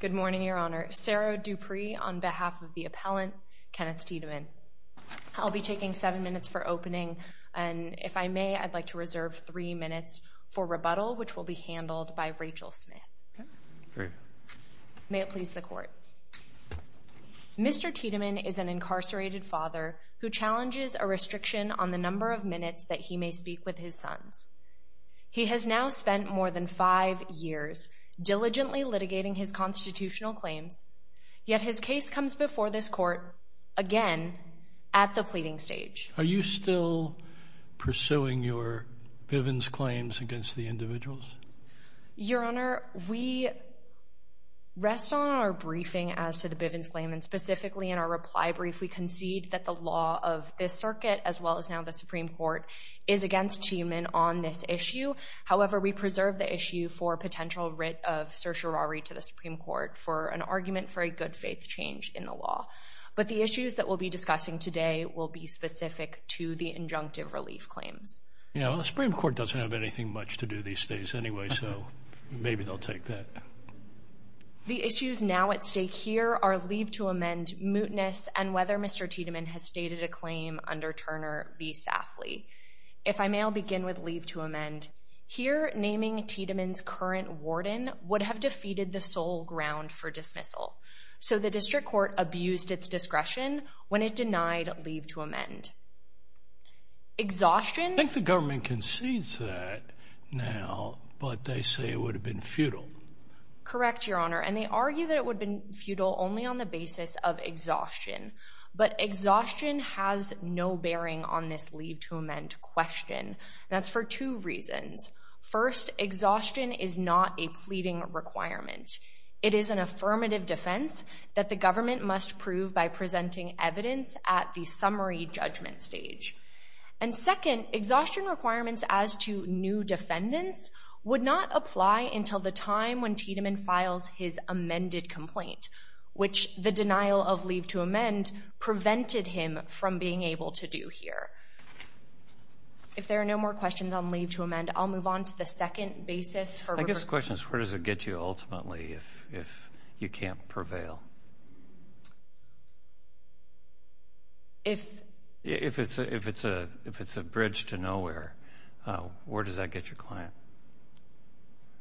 Good morning, Your Honor. Sarah Dupree on behalf of the appellant, Kenneth Tiedemann. I'll be taking seven minutes for opening, and if I may, I'd like to reserve three minutes for rebuttal, which will be handled by Rachel Smith. May it please the Court. Mr. Tiedemann is an incarcerated father who challenges a restriction on the number of minutes that he may speak with his sons. He has now spent more than five years diligently litigating his constitutional claims, yet his case comes before this Court again at the pleading stage. Are you still pursuing your Bivens claims against the individuals? Your Honor, we rest on our briefing as to the Bivens claim, and specifically in our reply brief, we concede that the law of this circuit, as well as now the Supreme Court, is against Tiedemann on this issue. However, we preserve the issue for potential writ of certiorari to the Supreme Court for an argument for a good-faith change in the law. But the issues that we'll be discussing today will be specific to the injunctive relief claims. Yeah, well, the Supreme Court doesn't have anything much to do these days anyway, so maybe they'll take that. The issues now at stake here are leave to amend, mootness, and whether Mr. Tiedemann has stated a claim under Turner v. Safley. If I may, I'll begin with leave to amend. Here, naming Tiedemann's current warden would have defeated the sole ground for dismissal, so the District Court abused its discretion when it denied leave to amend. Exhaustion? I think the government concedes that now, but they say it would have been futile. Correct, Your Honor, and they argue that it would have been futile only on the basis of exhaustion. But exhaustion has no bearing on this leave to amend question, and that's for two reasons. First, exhaustion is not a pleading requirement. It is an affirmative defense that the government must prove by presenting evidence at the summary judgment stage. And second, exhaustion requirements as to new defendants would not apply until the time when Tiedemann files his amended complaint, which the denial of leave to amend prevented him from being able to do here. If there are no more questions on leave to amend, I'll move on to the second basis. I guess the question is, where does it get you ultimately if you can't prevail? If it's a bridge to nowhere, where does that get your client?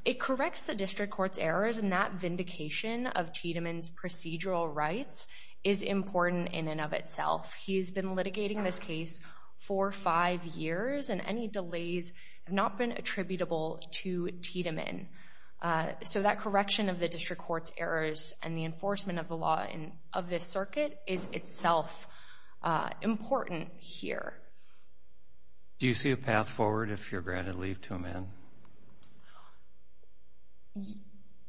It corrects the District Court's errors, and that vindication of Tiedemann's procedural rights is important in and of itself. He's been litigating this case for five years, and any delays have not been attributable to Tiedemann. So that correction of the District Court's errors and the enforcement of the law of this circuit is itself important here. Do you see a path forward if you're granted leave to amend?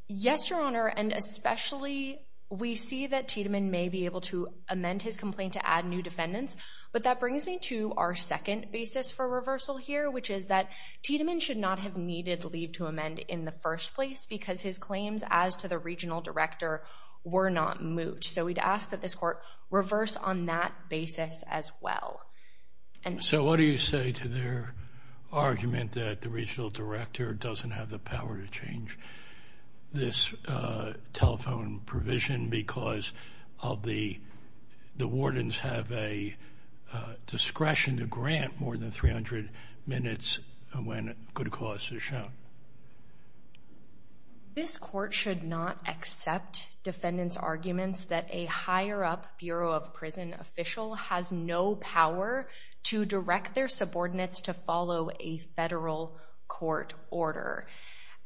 Yes, Your Honor, and especially we see that Tiedemann may be able to amend his complaint to add new defendants. But that brings me to our second basis for reversal here, which is that Tiedemann should not have needed leave to amend in the first place because his claims as to the regional director were not moved. So we'd ask that this Court reverse on that basis as well. So what do you say to their argument that the regional director doesn't have the power to change this telephone provision because the wardens have a discretion to grant more than 300 minutes when good cause is shown? This Court should not accept defendants' arguments that a higher-up Bureau of Prison official has no power to direct their subordinates to follow a federal court order.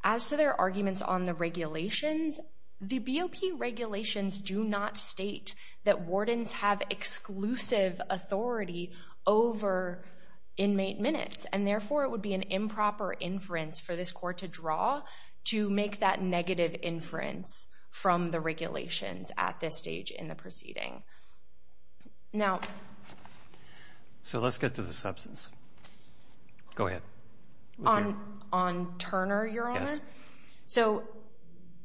As to their arguments on the regulations, the BOP regulations do not state that wardens have exclusive authority over inmate minutes, and therefore it would be an improper inference for this Court to draw to make that negative inference from the regulations at this stage in the proceeding. So let's get to the substance. Go ahead. On Turner, Your Honor? Yes. So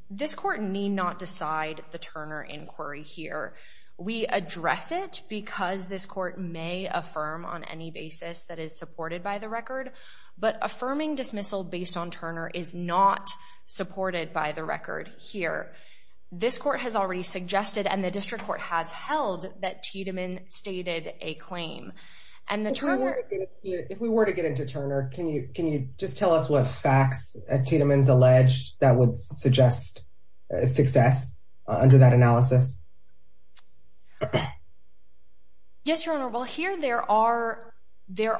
this Court need not decide the Turner inquiry here. We address it because this Court may affirm on any basis that is supported by the record, but affirming dismissal based on Turner is not supported by the record here. This Court has already suggested, and the District Court has held, that Tiedemann stated a claim. If we were to get into Turner, can you just tell us what facts Tiedemann's alleged that would suggest success under that analysis? Yes, Your Honor. Well, here there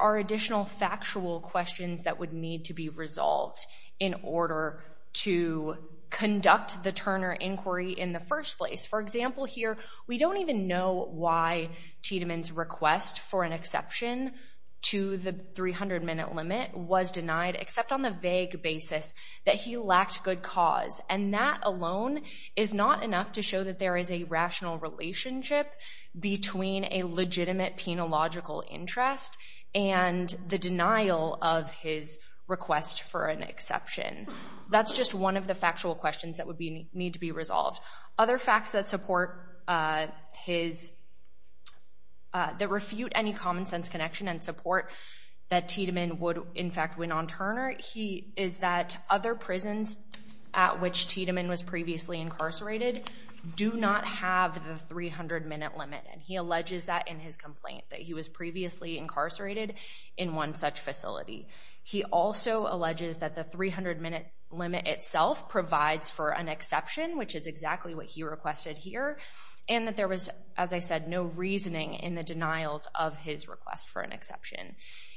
are additional factual questions that would need to be resolved in order to conduct the Turner inquiry in the first place. For example, here we don't even know why Tiedemann's request for an exception to the 300-minute limit was denied, except on the vague basis that he lacked good cause. And that alone is not enough to show that there is a rational relationship between a legitimate penological interest and the denial of his request for an exception. That's just one of the factual questions that would need to be resolved. Other facts that refute any common-sense connection and support that Tiedemann would, in fact, win on Turner is that other prisons at which Tiedemann was previously incarcerated do not have the 300-minute limit. And he alleges that in his complaint, that he was previously incarcerated in one such facility. He also alleges that the 300-minute limit itself provides for an exception, which is exactly what he requested here, and that there was, as I said, no reasoning in the denials of his request for an exception.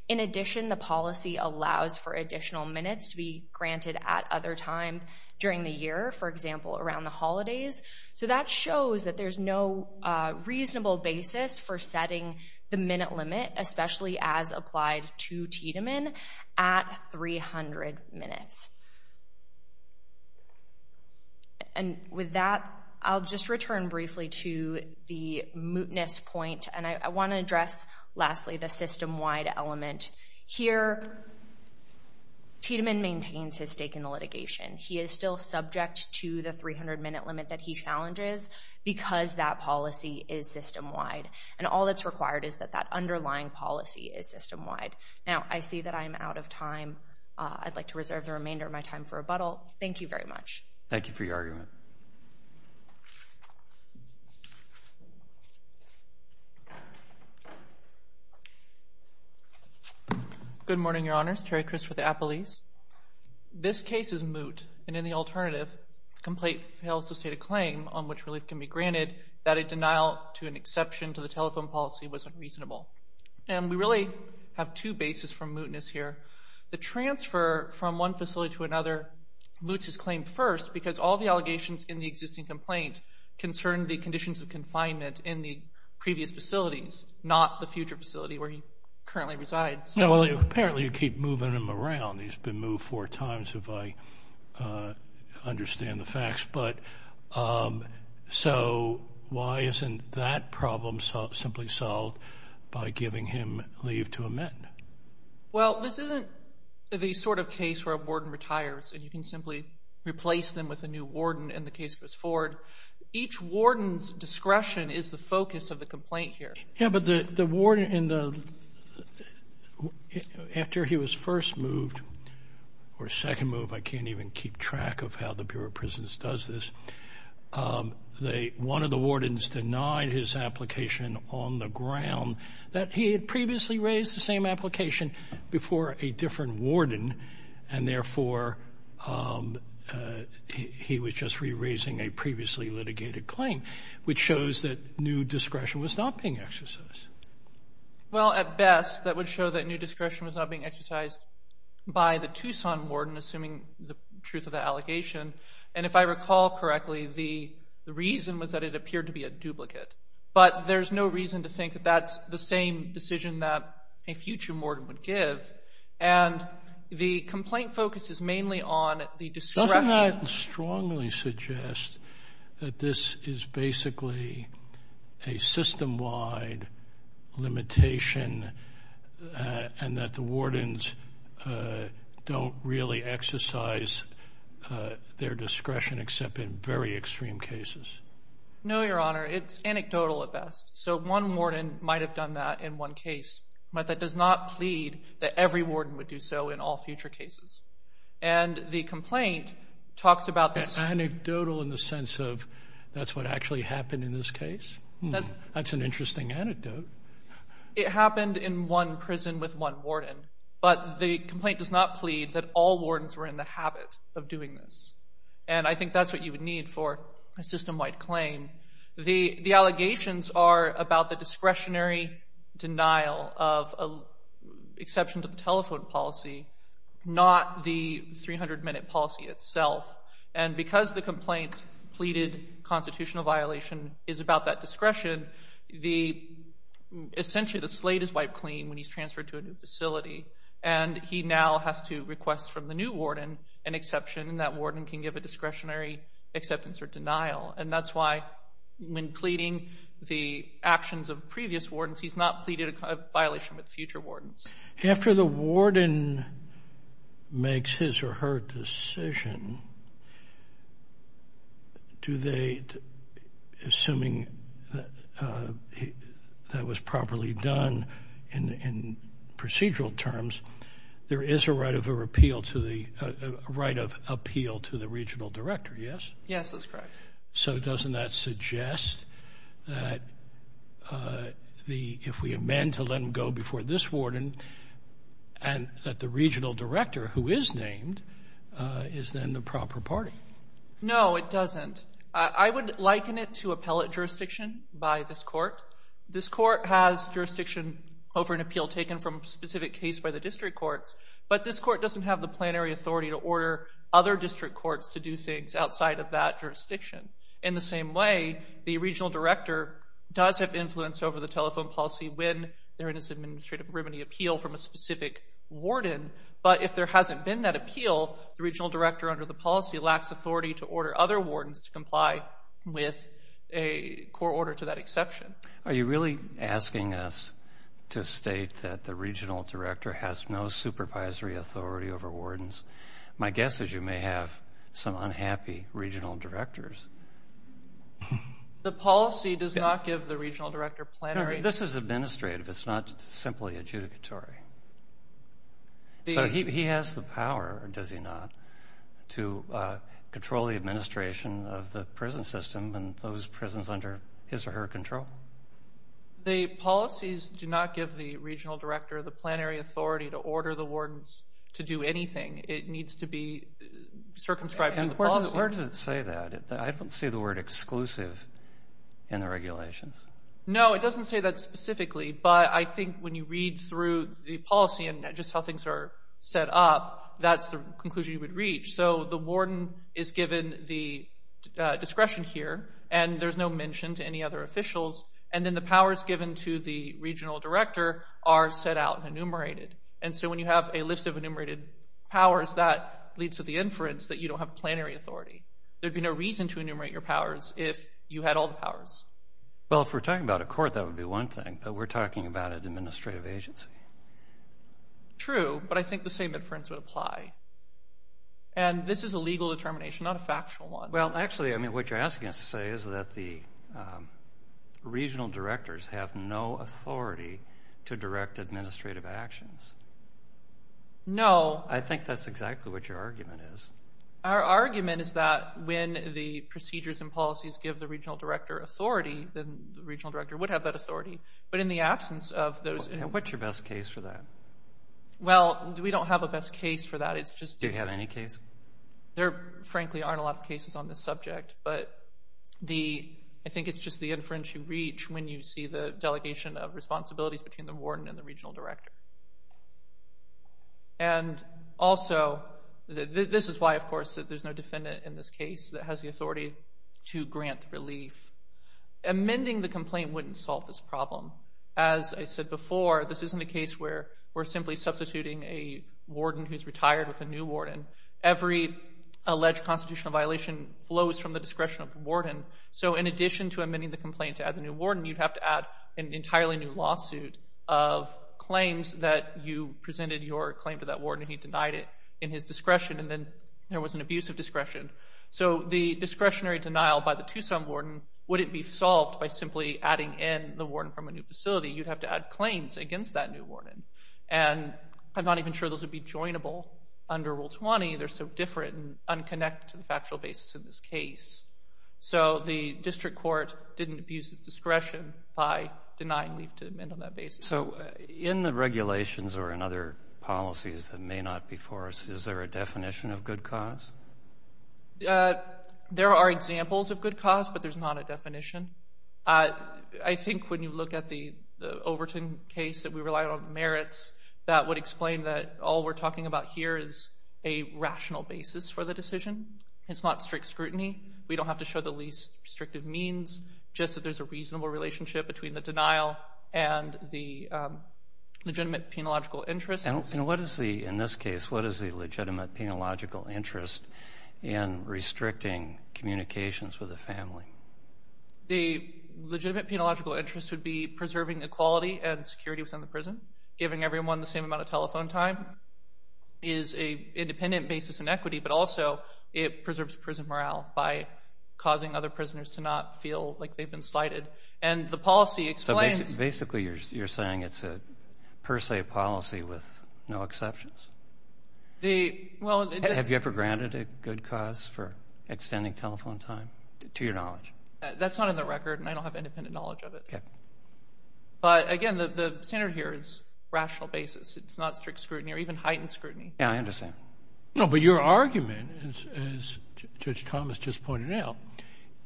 In addition, the policy allows for additional minutes to be granted at other times during the year, for example, around the holidays. So that shows that there's no reasonable basis for setting the minute limit, especially as applied to Tiedemann, at 300 minutes. And with that, I'll just return briefly to the mootness point. And I want to address, lastly, the system-wide element. Here, Tiedemann maintains his stake in the litigation. He is still subject to the 300-minute limit that he challenges because that policy is system-wide. And all that's required is that that underlying policy is system-wide. Now, I see that I'm out of time. I'd like to reserve the remainder of my time for rebuttal. Thank you very much. Thank you for your argument. Good morning, Your Honors. Terry Crist with Appalese. This case is moot, and in the alternative, complaint fails to state a claim on which relief can be granted that a denial to an exception to the telephone policy was unreasonable. And we really have two bases for mootness here. The transfer from one facility to another moots his claim first because all the allegations in the existing complaint concern the conditions of confinement in the previous facilities, not the future facility where he currently resides. Well, apparently you keep moving him around. He's been moved four times, if I understand the facts. So why isn't that problem simply solved by giving him leave to amend? Well, this isn't the sort of case where a warden retires and you can simply replace them with a new warden in the case of his Ford. Each warden's discretion is the focus of the complaint here. Yeah, but the warden, after he was first moved or second moved, I can't even keep track of how the Bureau of Prisons does this, one of the wardens denied his application on the ground that he had previously raised the same application before a different warden and therefore he was just re-raising a previously litigated claim, which shows that new discretion was not being exercised. Well, at best, that would show that new discretion was not being exercised by the Tucson warden, assuming the truth of the allegation. And if I recall correctly, the reason was that it appeared to be a duplicate. But there's no reason to think that that's the same decision that a future warden would give. And the complaint focuses mainly on the discretion. Doesn't that strongly suggest that this is basically a system-wide limitation and that the wardens don't really exercise their discretion except in very extreme cases? No, Your Honor. It's anecdotal at best. So one warden might have done that in one case, but that does not plead that every warden would do so in all future cases. And the complaint talks about this. Anecdotal in the sense of that's what actually happened in this case? That's an interesting anecdote. It happened in one prison with one warden, but the complaint does not plead that all wardens were in the habit of doing this. And I think that's what you would need for a system-wide claim. The allegations are about the discretionary denial of exception to the telephone policy, not the 300-minute policy itself. And because the complaint pleaded constitutional violation is about that discretion, essentially the slate is wiped clean when he's transferred to a new facility, and he now has to request from the new warden an exception, and that warden can give a discretionary acceptance or denial. And that's why when pleading the actions of previous wardens, he's not pleaded a violation with future wardens. After the warden makes his or her decision, do they, assuming that was properly done in procedural terms, there is a right of appeal to the regional director, yes? Yes, that's correct. So doesn't that suggest that if we amend to let him go before this warden and that the regional director, who is named, is then the proper party? No, it doesn't. I would liken it to appellate jurisdiction by this court. This court has jurisdiction over an appeal taken from a specific case by the district courts, but this court doesn't have the plenary authority to order other district courts to do things outside of that jurisdiction. In the same way, the regional director does have influence over the telephone policy when there is an administrative remedy appeal from a specific warden, but if there hasn't been that appeal, the regional director under the policy lacks authority to order other wardens to comply with a court order to that exception. Are you really asking us to state that the regional director has no supervisory authority over wardens? My guess is you may have some unhappy regional directors. This is administrative. It's not simply adjudicatory. So he has the power, does he not, to control the administration of the prison system and those prisons under his or her control? The policies do not give the regional director the plenary authority to order the wardens to do anything. It needs to be circumscribed to the policy. Where does it say that? I don't see the word exclusive in the regulations. No, it doesn't say that specifically, but I think when you read through the policy and just how things are set up, that's the conclusion you would reach. So the warden is given the discretion here, and there's no mention to any other officials, and then the powers given to the regional director are set out and enumerated. So when you have a list of enumerated powers, that leads to the inference that you don't have plenary authority. There would be no reason to enumerate your powers if you had all the powers. Well, if we're talking about a court, that would be one thing, but we're talking about an administrative agency. True, but I think the same inference would apply. And this is a legal determination, not a factual one. Well, actually, I mean, what you're asking us to say is that the regional directors have no authority to direct administrative actions. No. I think that's exactly what your argument is. Our argument is that when the procedures and policies give the regional director authority, then the regional director would have that authority. But in the absence of those... What's your best case for that? Well, we don't have a best case for that. Do you have any case? There, frankly, aren't a lot of cases on this subject, but I think it's just the inference you reach when you see the delegation of responsibilities between the warden and the regional director. And also, this is why, of course, there's no defendant in this case that has the authority to grant relief. Amending the complaint wouldn't solve this problem. As I said before, this isn't a case where we're simply substituting a warden who's retired with a new warden. Every alleged constitutional violation flows from the discretion of the warden. So in addition to amending the complaint to add the new warden, you'd have to add an entirely new lawsuit of claims that you presented your claim to that warden and he denied it in his discretion, and then there was an abuse of discretion. So the discretionary denial by the Tucson warden wouldn't be solved by simply adding in the warden from a new facility. You'd have to add claims against that new warden. And I'm not even sure those would be joinable under Rule 20. They're so different and unconnected to the factual basis in this case. So the district court didn't abuse its discretion by denying relief to amend on that basis. So in the regulations or in other policies that may not be for us, is there a definition of good cause? There are examples of good cause, but there's not a definition. I think when you look at the Overton case that we relied on the merits, that would explain that all we're talking about here is a rational basis for the decision. It's not strict scrutiny. We don't have to show the least restrictive means, just that there's a reasonable relationship between the denial and the legitimate penological interests. And what is the, in this case, what is the legitimate penological interest in restricting communications with the family? The legitimate penological interest would be preserving equality and security within the prison. Giving everyone the same amount of telephone time is an independent basis in equity, but also it preserves prison morale by causing other prisoners to not feel like they've been slighted. And the policy explains- So basically you're saying it's a per se policy with no exceptions? Have you ever granted a good cause for extending telephone time, to your knowledge? That's not in the record, and I don't have independent knowledge of it. But again, the standard here is rational basis. It's not strict scrutiny or even heightened scrutiny. Yeah, I understand. No, but your argument, as Judge Thomas just pointed out,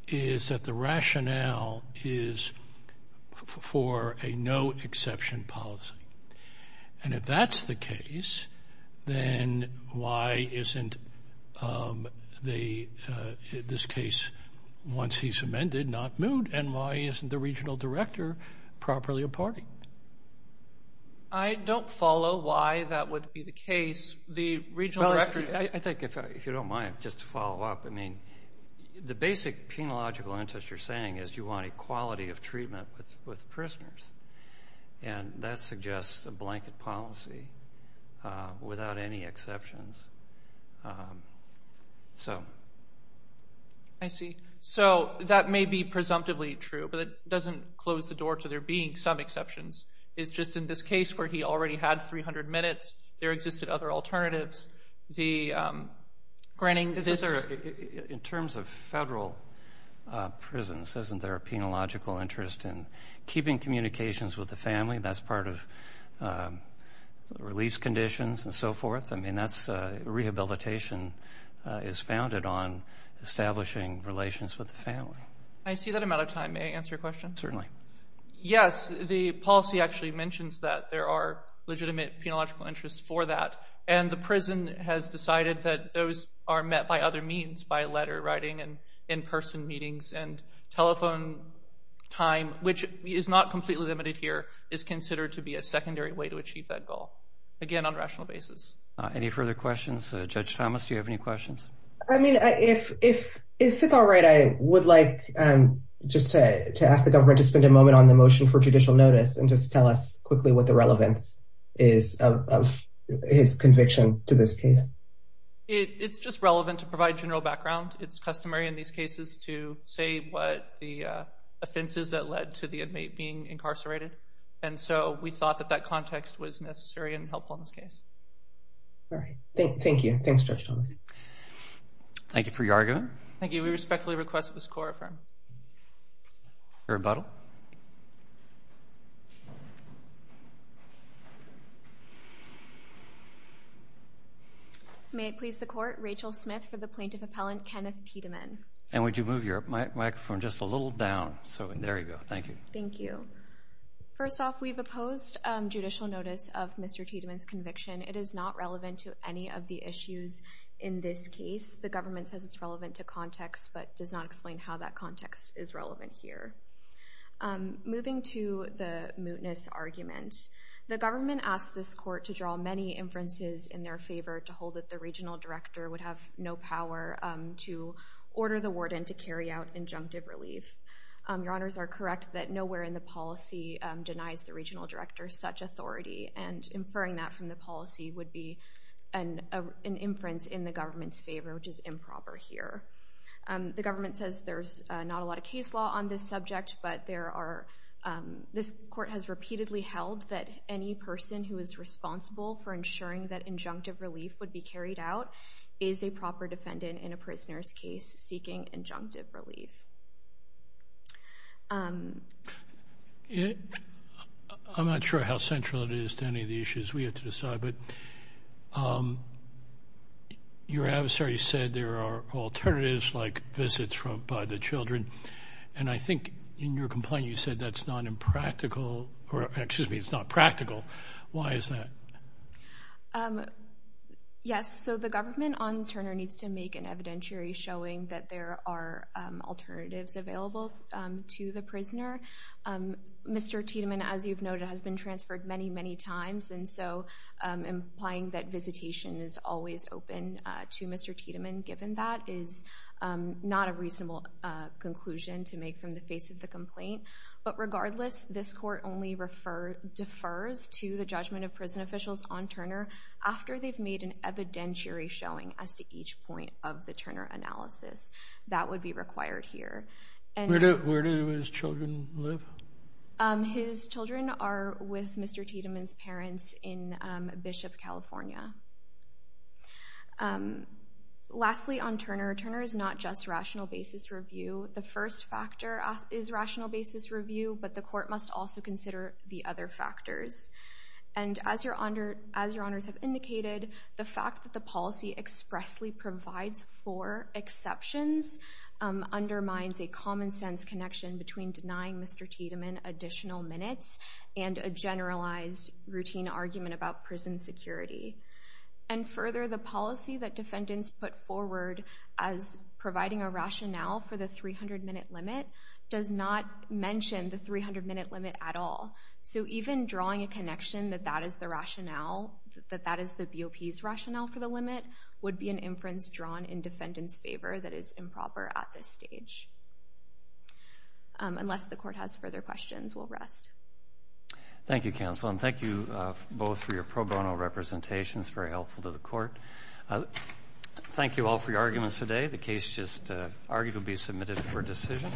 is that the rationale is for a no exception policy. And if that's the case, then why isn't this case, once he's amended, not moved? And why isn't the regional director properly a party? I don't follow why that would be the case. I think, if you don't mind, just to follow up, the basic penological interest you're saying is you want equality of treatment with prisoners, and that suggests a blanket policy without any exceptions. I see. So that may be presumptively true, but it doesn't close the door to there being some exceptions. It's just in this case where he already had 300 minutes, there existed other alternatives. In terms of federal prisons, isn't there a penological interest in keeping communications with the family? That's part of release conditions and so forth. I mean, rehabilitation is founded on establishing relations with the family. I see that I'm out of time. May I answer your question? Certainly. Yes, the policy actually mentions that there are legitimate penological interests for that, and the prison has decided that those are met by other means, by letter writing and in-person meetings and telephone time, which is not completely limited here, is considered to be a secondary way to achieve that goal, again, on a rational basis. Any further questions? Judge Thomas, do you have any questions? I mean, if it's all right, I would like just to ask the government to spend a moment on the motion for judicial notice and just tell us quickly what the relevance is of his conviction to this case. It's just relevant to provide general background. It's customary in these cases to say what the offenses that led to the inmate being incarcerated, and so we thought that that context was necessary and helpful in this case. All right. Thank you. Thanks, Judge Thomas. Thank you for your argument. Thank you. We respectfully request this court affirm. Your rebuttal. May it please the Court, Rachel Smith for the plaintiff appellant, Kenneth Tiedemann. And would you move your microphone just a little down? So there you go. Thank you. Thank you. First off, we've opposed judicial notice of Mr. Tiedemann's conviction. It is not relevant to any of the issues in this case. The government says it's relevant to context but does not explain how that context is relevant here. Moving to the mootness argument, the government asked this court to draw many inferences in their favor to hold that the regional director would have no power to order the warden to carry out injunctive relief. Your honors are correct that nowhere in the policy denies the regional director such authority, and inferring that from the policy would be an inference in the government's favor, which is improper here. The government says there's not a lot of case law on this subject, but this court has repeatedly held that any person who is responsible for ensuring that injunctive relief would be carried out is a proper defendant in a prisoner's case seeking injunctive relief. I'm not sure how central it is to any of the issues we have to decide, but your adversary said there are alternatives like visits by the children, and I think in your complaint you said that's not impractical. Excuse me, it's not practical. Why is that? Yes, so the government on Turner needs to make an evidentiary showing that there are alternatives available to the prisoner. Mr. Tiedemann, as you've noted, has been transferred many, many times, and so implying that visitation is always open to Mr. Tiedemann given that is not a reasonable conclusion to make from the face of the complaint. But regardless, this court only defers to the judgment of prison officials on Turner after they've made an evidentiary showing as to each point of the Turner analysis. That would be required here. Where do his children live? His children are with Mr. Tiedemann's parents in Bishop, California. Lastly, on Turner, Turner is not just rational basis review. The first factor is rational basis review, but the court must also consider the other factors. And as your honors have indicated, the fact that the policy expressly provides for exceptions undermines a common sense connection between denying Mr. Tiedemann additional minutes and a generalized routine argument about prison security. And further, the policy that defendants put forward as providing a rationale for the 300-minute limit does not mention the 300-minute limit at all. So even drawing a connection that that is the rationale, that that is the BOP's rationale for the limit, would be an inference drawn in defendant's favor that is improper at this stage. Unless the court has further questions, we'll rest. Thank you, counsel, and thank you both for your pro bono representations. Very helpful to the court. Thank you all for your arguments today. The case just arguably submitted for decision.